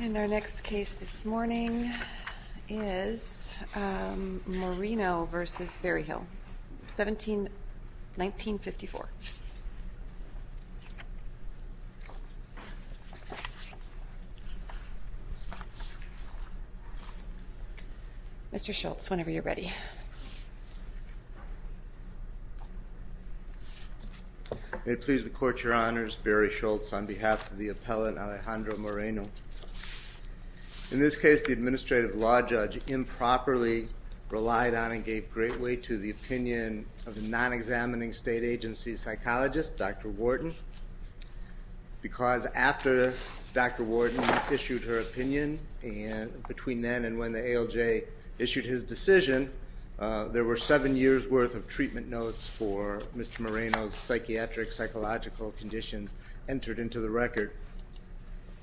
In our next case this morning is Moreno v. Berryhill, 1954. Mr. Schultz, whenever you're ready. Mr. Schultz May it please the Court, Your Honors, Berry Schultz on behalf of the appellate Alejandro Moreno. In this case the administrative law judge improperly relied on and gave great weight to the opinion of the non-examining state agency psychologist, Dr. Wharton. Because after Dr. Wharton issued her opinion and between then and when the ALJ issued his decision, there were seven years worth of treatment notes for Mr. Moreno's psychiatric psychological conditions entered into the record.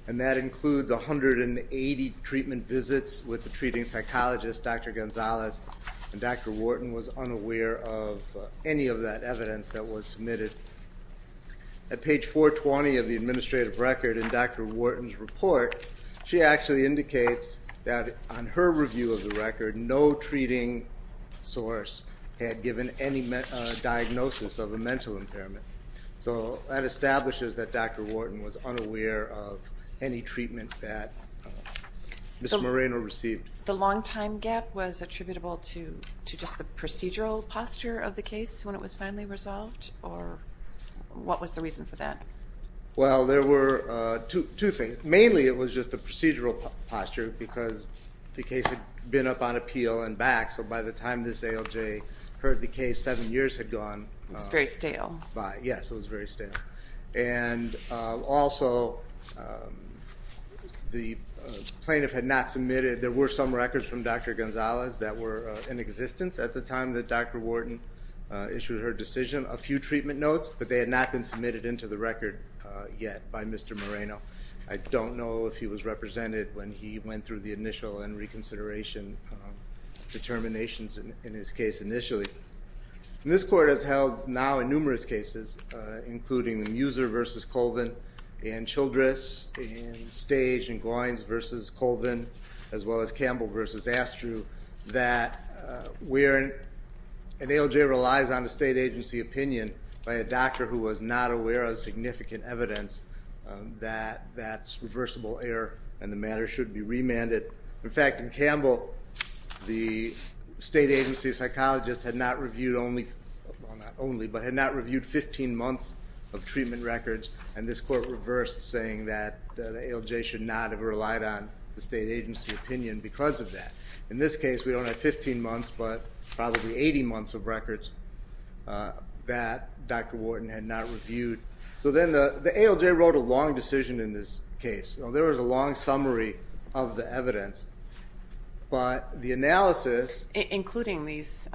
And that includes 180 treatment visits with the treating psychologist, Dr. Gonzalez, and Dr. Wharton was unaware of any of that evidence that was submitted. At page 420 of the administrative record in Dr. Wharton's report, she actually indicates that on her review of the record, no treating source had given any diagnosis of a mental impairment. So that establishes that Dr. Wharton was unaware of any treatment that Ms. Moreno received. The long time gap was attributable to just the procedural posture of the case when it was finally resolved? Or what was the reason for that? Well, there were two things. Mainly it was just the procedural posture because the case had been up on appeal and back. So by the time this ALJ heard the case, seven years had gone by. Yes, it was very stale. And also the plaintiff had not submitted. There were some records from Dr. Gonzalez that were in existence at the time that Dr. Wharton issued her decision. A few treatment notes, but they had not been submitted into the record yet by Mr. Moreno. I don't know if he was represented when he went through the initial and reconsideration determinations in his case initially. This court has held now in numerous cases, including Muser v. Colvin and Childress, and Stage and Goins v. Colvin, as well as Campbell v. Astru, that where an ALJ relies on a state agency opinion by a doctor who was not aware of significant evidence, that that's reversible error and the matter should be remanded. In fact, in Campbell, the state agency psychologist had not reviewed 15 months of treatment records, and this court reversed saying that the ALJ should not have relied on the state agency opinion because of that. In this case, we don't have 15 months, but probably 80 months of records that Dr. Wharton had not reviewed. So then the ALJ wrote a long decision in this case. There was a long summary of the evidence, but the analysis- Including these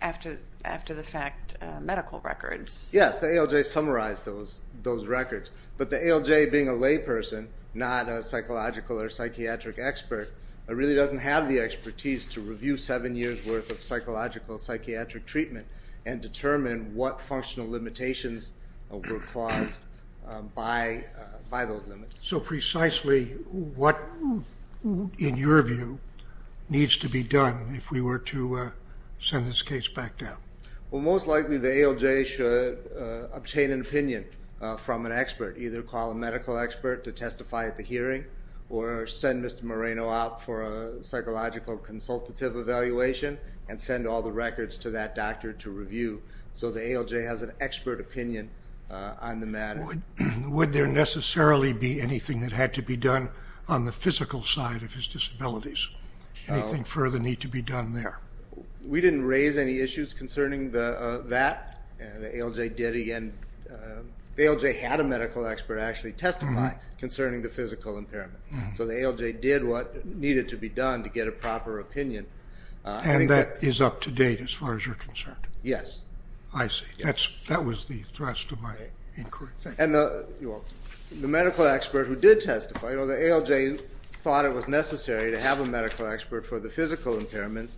after-the-fact medical records. Yes, the ALJ summarized those records, but the ALJ being a layperson, not a psychological or psychiatric expert, really doesn't have the expertise to review seven years' worth of psychological psychiatric treatment and determine what functional limitations were caused by those limits. So precisely what, in your view, needs to be done if we were to send this case back down? Well, most likely the ALJ should obtain an opinion from an expert, either call a medical expert to testify at the hearing or send Mr. Moreno out for a psychological consultative evaluation and send all the records to that doctor to review so the ALJ has an expert opinion on the matter. Would there necessarily be anything that had to be done on the physical side of his disabilities? Anything further need to be done there? We didn't raise any issues concerning that. The ALJ had a medical expert actually testify concerning the physical impairment. So the ALJ did what needed to be done to get a proper opinion. And that is up to date as far as you're concerned? Yes. I see. That was the thrust of my inquiry. And the medical expert who did testify, the ALJ thought it was necessary to have a medical expert for the physical impairment.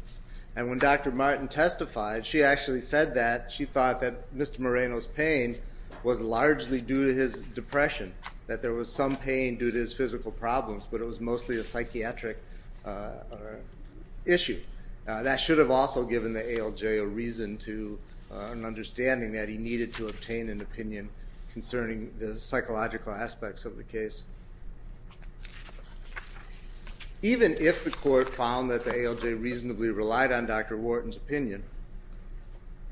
And when Dr. Martin testified, she actually said that she thought that Mr. Moreno's pain was largely due to his depression, that there was some pain due to his physical problems, but it was mostly a psychiatric issue. That should have also given the ALJ a reason to an understanding that he needed to obtain an opinion concerning the psychological aspects of the case. Even if the court found that the ALJ reasonably relied on Dr. Wharton's opinion,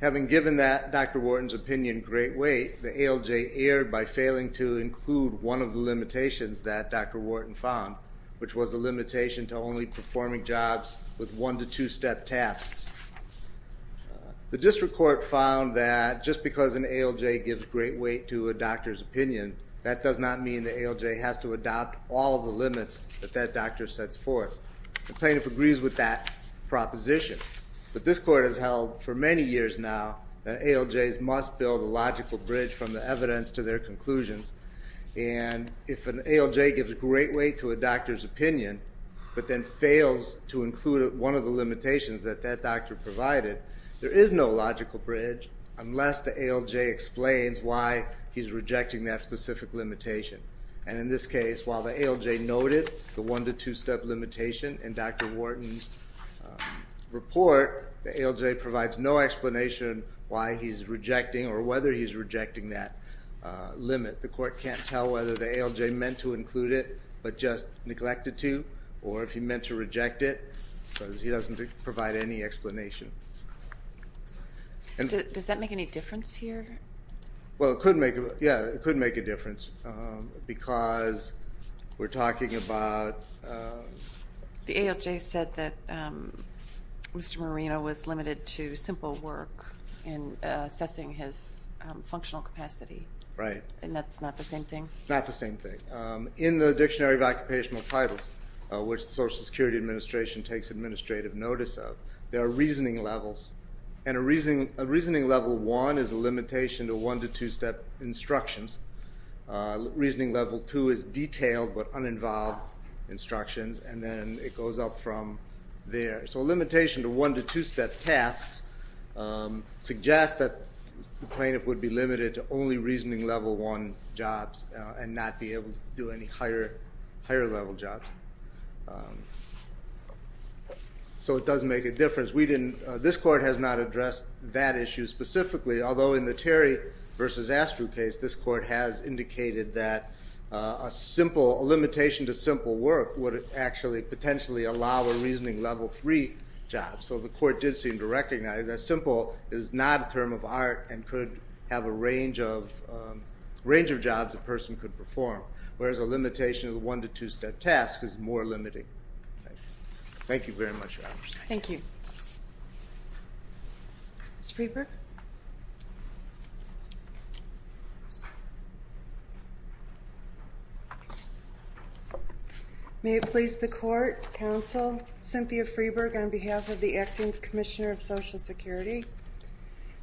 having given that Dr. Wharton's opinion great weight, the ALJ erred by failing to include one of the limitations that Dr. Wharton found, which was the limitation to only performing jobs with one- to two-step tasks. The district court found that just because an ALJ gives great weight to a doctor's opinion, that does not mean the ALJ has to adopt all of the limits that that doctor sets forth. The plaintiff agrees with that proposition. But this court has held for many years now that ALJs must build a logical bridge from the evidence to their conclusions. If an ALJ gives great weight to a doctor's opinion, but then fails to include one of the limitations that that doctor provided, there is no logical bridge unless the ALJ explains why he's rejecting that specific limitation. In this case, while the ALJ noted the one- to two-step limitation in Dr. Wharton's report, the ALJ provides no explanation why he's rejecting or whether he's rejecting that limit. The court can't tell whether the ALJ meant to include it, but just neglected to, or if he meant to reject it because he doesn't provide any explanation. Does that make any difference here? Well, it could make a difference because we're talking about the ALJ said that Mr. Marino was limited to simple work in assessing his functional capacity. Right. And that's not the same thing? It's not the same thing. In the Dictionary of Occupational Titles, which the Social Security Administration takes administrative notice of, there are reasoning levels, and a reasoning level one is a limitation to one- to two-step instructions. Reasoning level two is detailed but uninvolved instructions, and then it goes up from there. So a limitation to one- to two-step tasks suggests that the plaintiff would be limited to only reasoning level one jobs and not be able to do any higher-level jobs. So it does make a difference. This court has not addressed that issue specifically, although in the Terry v. Astrew case, this court has indicated that a limitation to simple work would actually potentially allow a reasoning level three job. So the court did seem to recognize that simple is not a term of art and could have a range of jobs a person could perform, whereas a limitation of the one- to two-step task is more limiting. Thank you very much, Your Honors. Thank you. Ms. Freeberg? May it please the Court, Counsel, Cynthia Freeberg, on behalf of the Acting Commissioner of Social Security.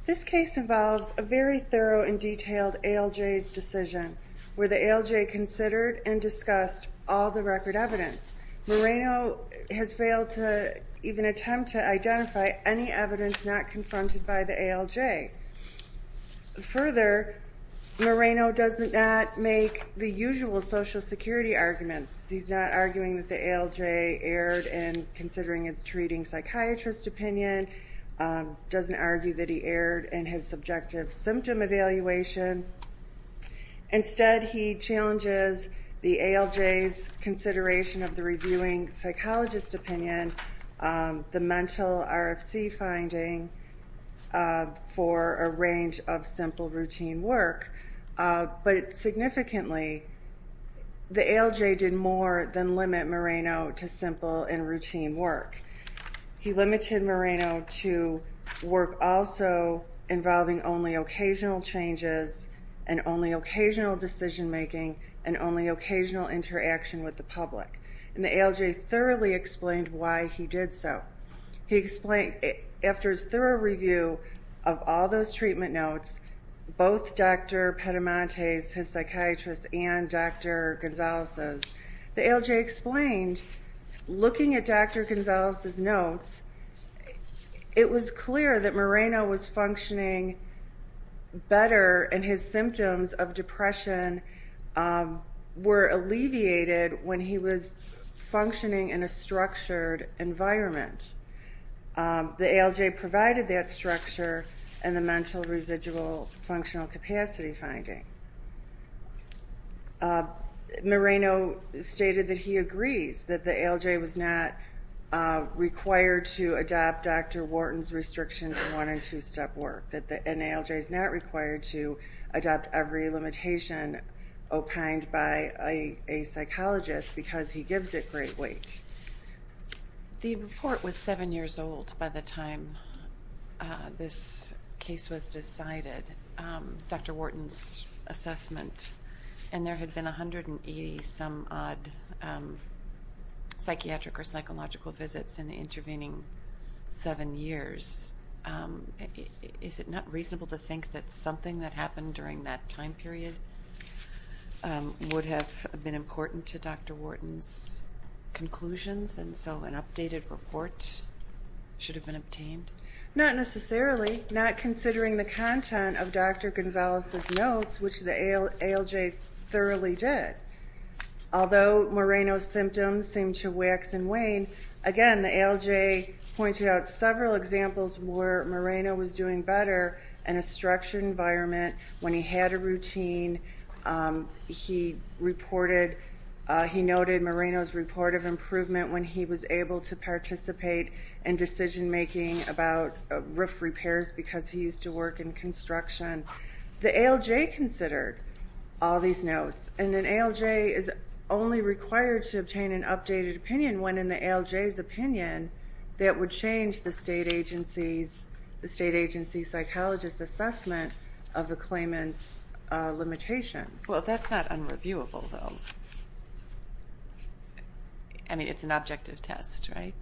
This case involves a very thorough and detailed ALJ's decision, where the ALJ considered and discussed all the record evidence. Moreno has failed to even attempt to identify any evidence not confronted by the ALJ. Further, Moreno does not make the usual Social Security arguments. He's not arguing that the ALJ erred in considering his treating psychiatrist opinion, doesn't argue that he erred in his subjective symptom evaluation. Instead, he challenges the ALJ's consideration of the reviewing psychologist opinion, the mental RFC finding for a range of simple routine work. But significantly, the ALJ did more than limit Moreno to simple and routine work. He limited Moreno to work also involving only occasional changes and only occasional decision-making and only occasional interaction with the public. And the ALJ thoroughly explained why he did so. He explained, after his thorough review of all those treatment notes, both Dr. Petamonte's, his psychiatrist's, and Dr. Gonzalez's, the ALJ explained, looking at Dr. Gonzalez's notes, it was clear that Moreno was functioning better and his symptoms of depression were alleviated when he was functioning in a structured environment. The ALJ provided that structure in the mental residual functional capacity finding. Moreno stated that he agrees that the ALJ was not required to adopt Dr. Wharton's restriction to one- and two-step work, that the NALJ is not required to adopt every limitation opined by a psychologist because he gives it great weight. The report was seven years old by the time this case was decided. Dr. Wharton's assessment. And there had been 180 some odd psychiatric or psychological visits in the intervening seven years. Is it not reasonable to think that something that happened during that time period would have been important to Dr. Wharton's conclusions and so an updated report should have been obtained? Not necessarily, not considering the content of Dr. Gonzalez's notes, which the ALJ thoroughly did. Although Moreno's symptoms seemed to wax and wane, again, the ALJ pointed out several examples where Moreno was doing better in a structured environment, when he had a routine, he reported, he noted Moreno's report of improvement when he was able to participate in decision-making about roof repairs because he used to work in construction. The ALJ considered all these notes, and an ALJ is only required to obtain an updated opinion when in the ALJ's opinion that would change the state agency psychologist's assessment of a claimant's limitations. Well, that's not unreviewable, though. I mean, it's an objective test, right?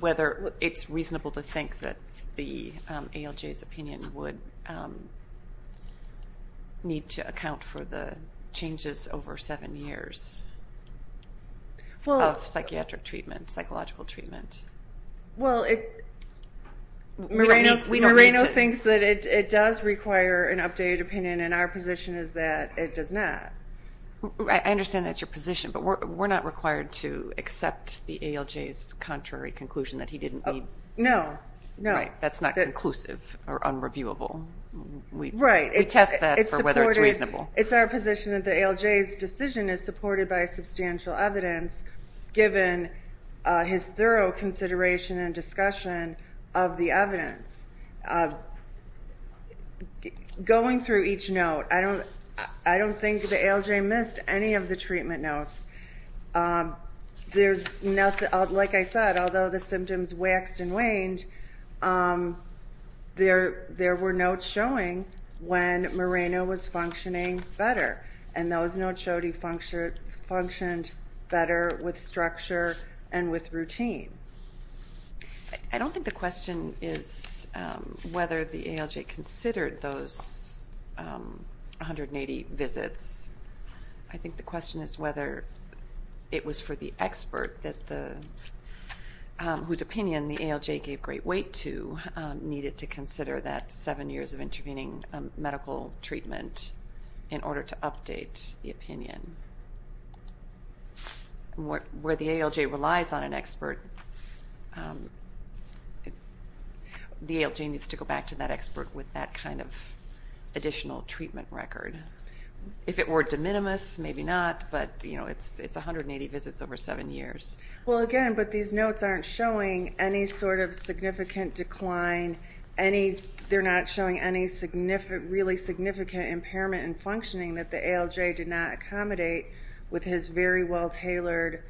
Whether it's reasonable to think that the ALJ's opinion would need to account for the changes over seven years of psychiatric treatment, psychological treatment. Well, Moreno thinks that it does require an updated opinion, and our position is that it does not. I understand that's your position, but we're not required to accept the ALJ's contrary conclusion that he didn't need... No, no. Right, that's not conclusive or unreviewable. Right. We test that for whether it's reasonable. It's our position that the ALJ's decision is supported by substantial evidence, given his thorough consideration and discussion of the evidence. Going through each note, I don't think the ALJ missed any of the treatment notes. There's nothing, like I said, although the symptoms waxed and waned, there were notes showing when Moreno was functioning better, and those notes showed he functioned better with structure and with routine. I don't think the question is whether the ALJ considered those 180 visits. I think the question is whether it was for the expert whose opinion the ALJ gave great weight to needed to consider that seven years of intervening medical treatment in order to update the opinion. Where the ALJ relies on an expert, the ALJ needs to go back to that expert with that kind of additional treatment record. If it were de minimis, maybe not, but it's 180 visits over seven years. Well, again, but these notes aren't showing any sort of significant decline. They're not showing any really significant impairment in functioning that the ALJ did not accommodate with his very well-tailored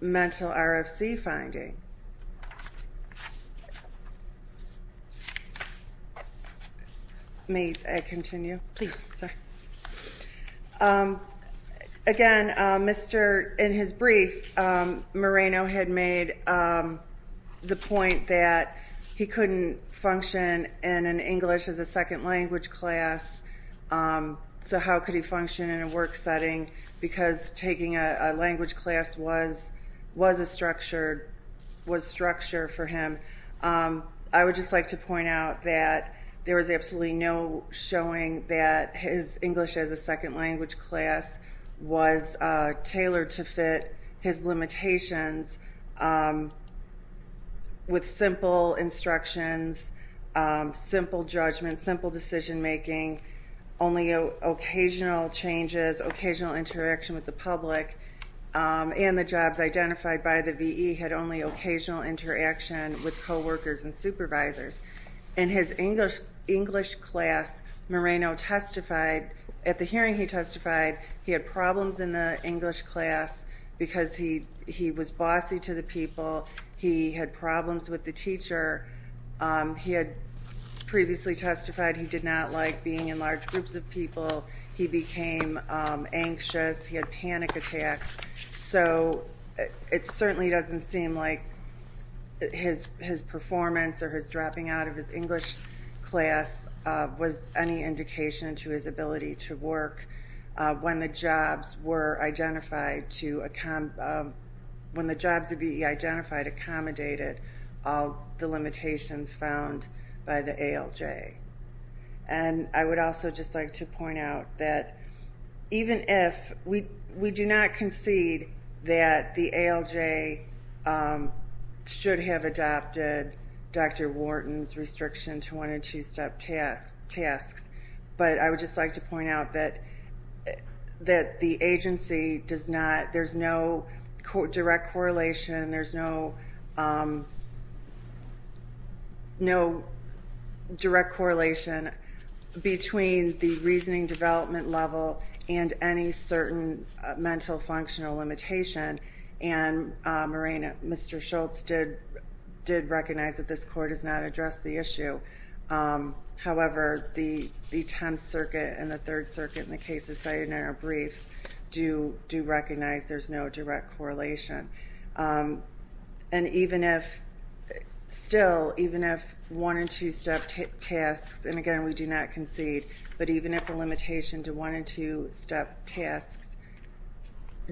mental RFC finding. May I continue? Please. Again, in his brief, Moreno had made the point that he couldn't function in an English as a second language class, so how could he function in a work setting? Because taking a language class was a structure for him. I would just like to point out that there was absolutely no showing that his English as a second language class was tailored to fit his limitations with simple instructions, simple judgment, simple decision-making, only occasional changes, occasional interaction with the public, and the jobs identified by the VE had only occasional interaction with coworkers and supervisors. In his English class, Moreno testified, at the hearing he testified, he had problems in the English class because he was bossy to the people, he had problems with the teacher. He had previously testified he did not like being in large groups of people. He became anxious, he had panic attacks, so it certainly doesn't seem like his performance or his dropping out of his English class was any indication to his ability to work when the jobs of VE identified accommodated all the limitations found by the ALJ. And I would also just like to point out that even if we do not concede that the ALJ should have adopted Dr. Wharton's restriction to one- and two-step tasks, but I would just like to point out that the agency does not, there's no direct correlation, there's no direct correlation between the reasoning development level and any certain mental functional limitation, and Mr. Schultz did recognize that this Court has not addressed the issue. However, the Tenth Circuit and the Third Circuit in the cases cited in our brief do recognize there's no direct correlation. And even if, still, even if one- and two-step tasks, and again we do not concede, but even if the limitation to one- and two-step tasks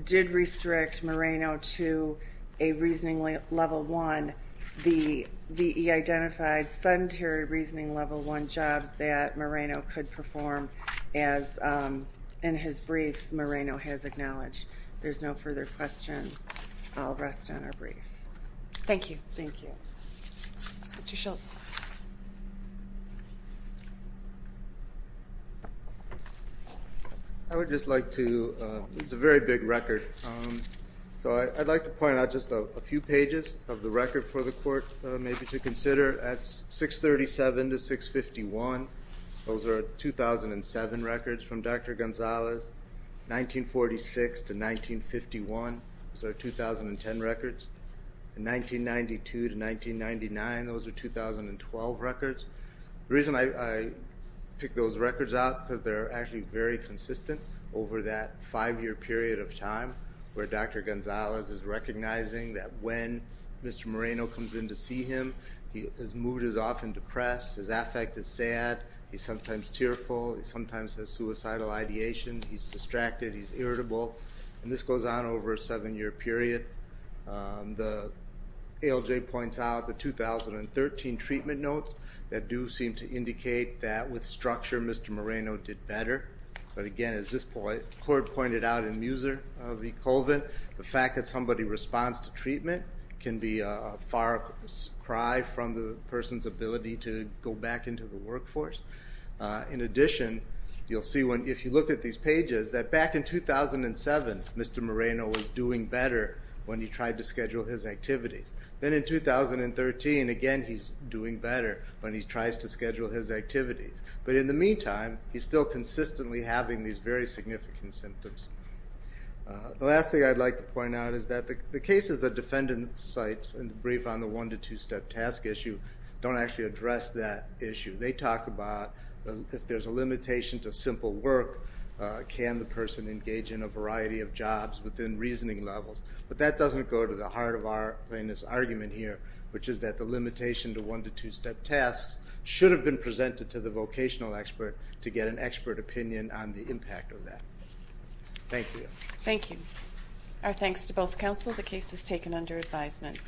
did restrict Moreno to a reasonably level one, the VE identified sedentary reasoning level one jobs that Moreno could perform, as in his brief Moreno has acknowledged. If there's no further questions, I'll rest on our brief. Thank you. Thank you. Mr. Schultz. I would just like to, it's a very big record, so I'd like to point out just a few pages of the record for the Court maybe to consider. At 637 to 651, those are 2007 records from Dr. Gonzalez. 1946 to 1951, those are 2010 records. In 1992 to 1999, those are 2012 records. The reason I pick those records out is because they're actually very consistent over that five-year period of time where Dr. Gonzalez is recognizing that when Mr. Moreno comes in to see him, his mood is often depressed. His affect is sad. He's sometimes tearful. He sometimes has suicidal ideation. He's distracted. He's irritable. And this goes on over a seven-year period. The ALJ points out the 2013 treatment notes that do seem to indicate that with structure Mr. Moreno did better. But again, as this Court pointed out in Muser v. Colvin, the fact that somebody responds to treatment can be a far cry from the person's ability to go back into the workforce. In addition, you'll see if you look at these pages that back in 2007, Mr. Moreno was doing better when he tried to schedule his activities. Then in 2013, again, he's doing better when he tries to schedule his activities. But in the meantime, he's still consistently having these very significant symptoms. The last thing I'd like to point out is that the cases that defendants cite in the brief on the one- to two-step task issue don't actually address that issue. They talk about if there's a limitation to simple work, can the person engage in a variety of jobs within reasoning levels? But that doesn't go to the heart of our plaintiff's argument here, which is that the limitation to one- to two-step tasks should have been presented to the vocational expert to get an expert opinion on the impact of that. Thank you. Thank you. Our thanks to both counsel. The case is taken under advisement.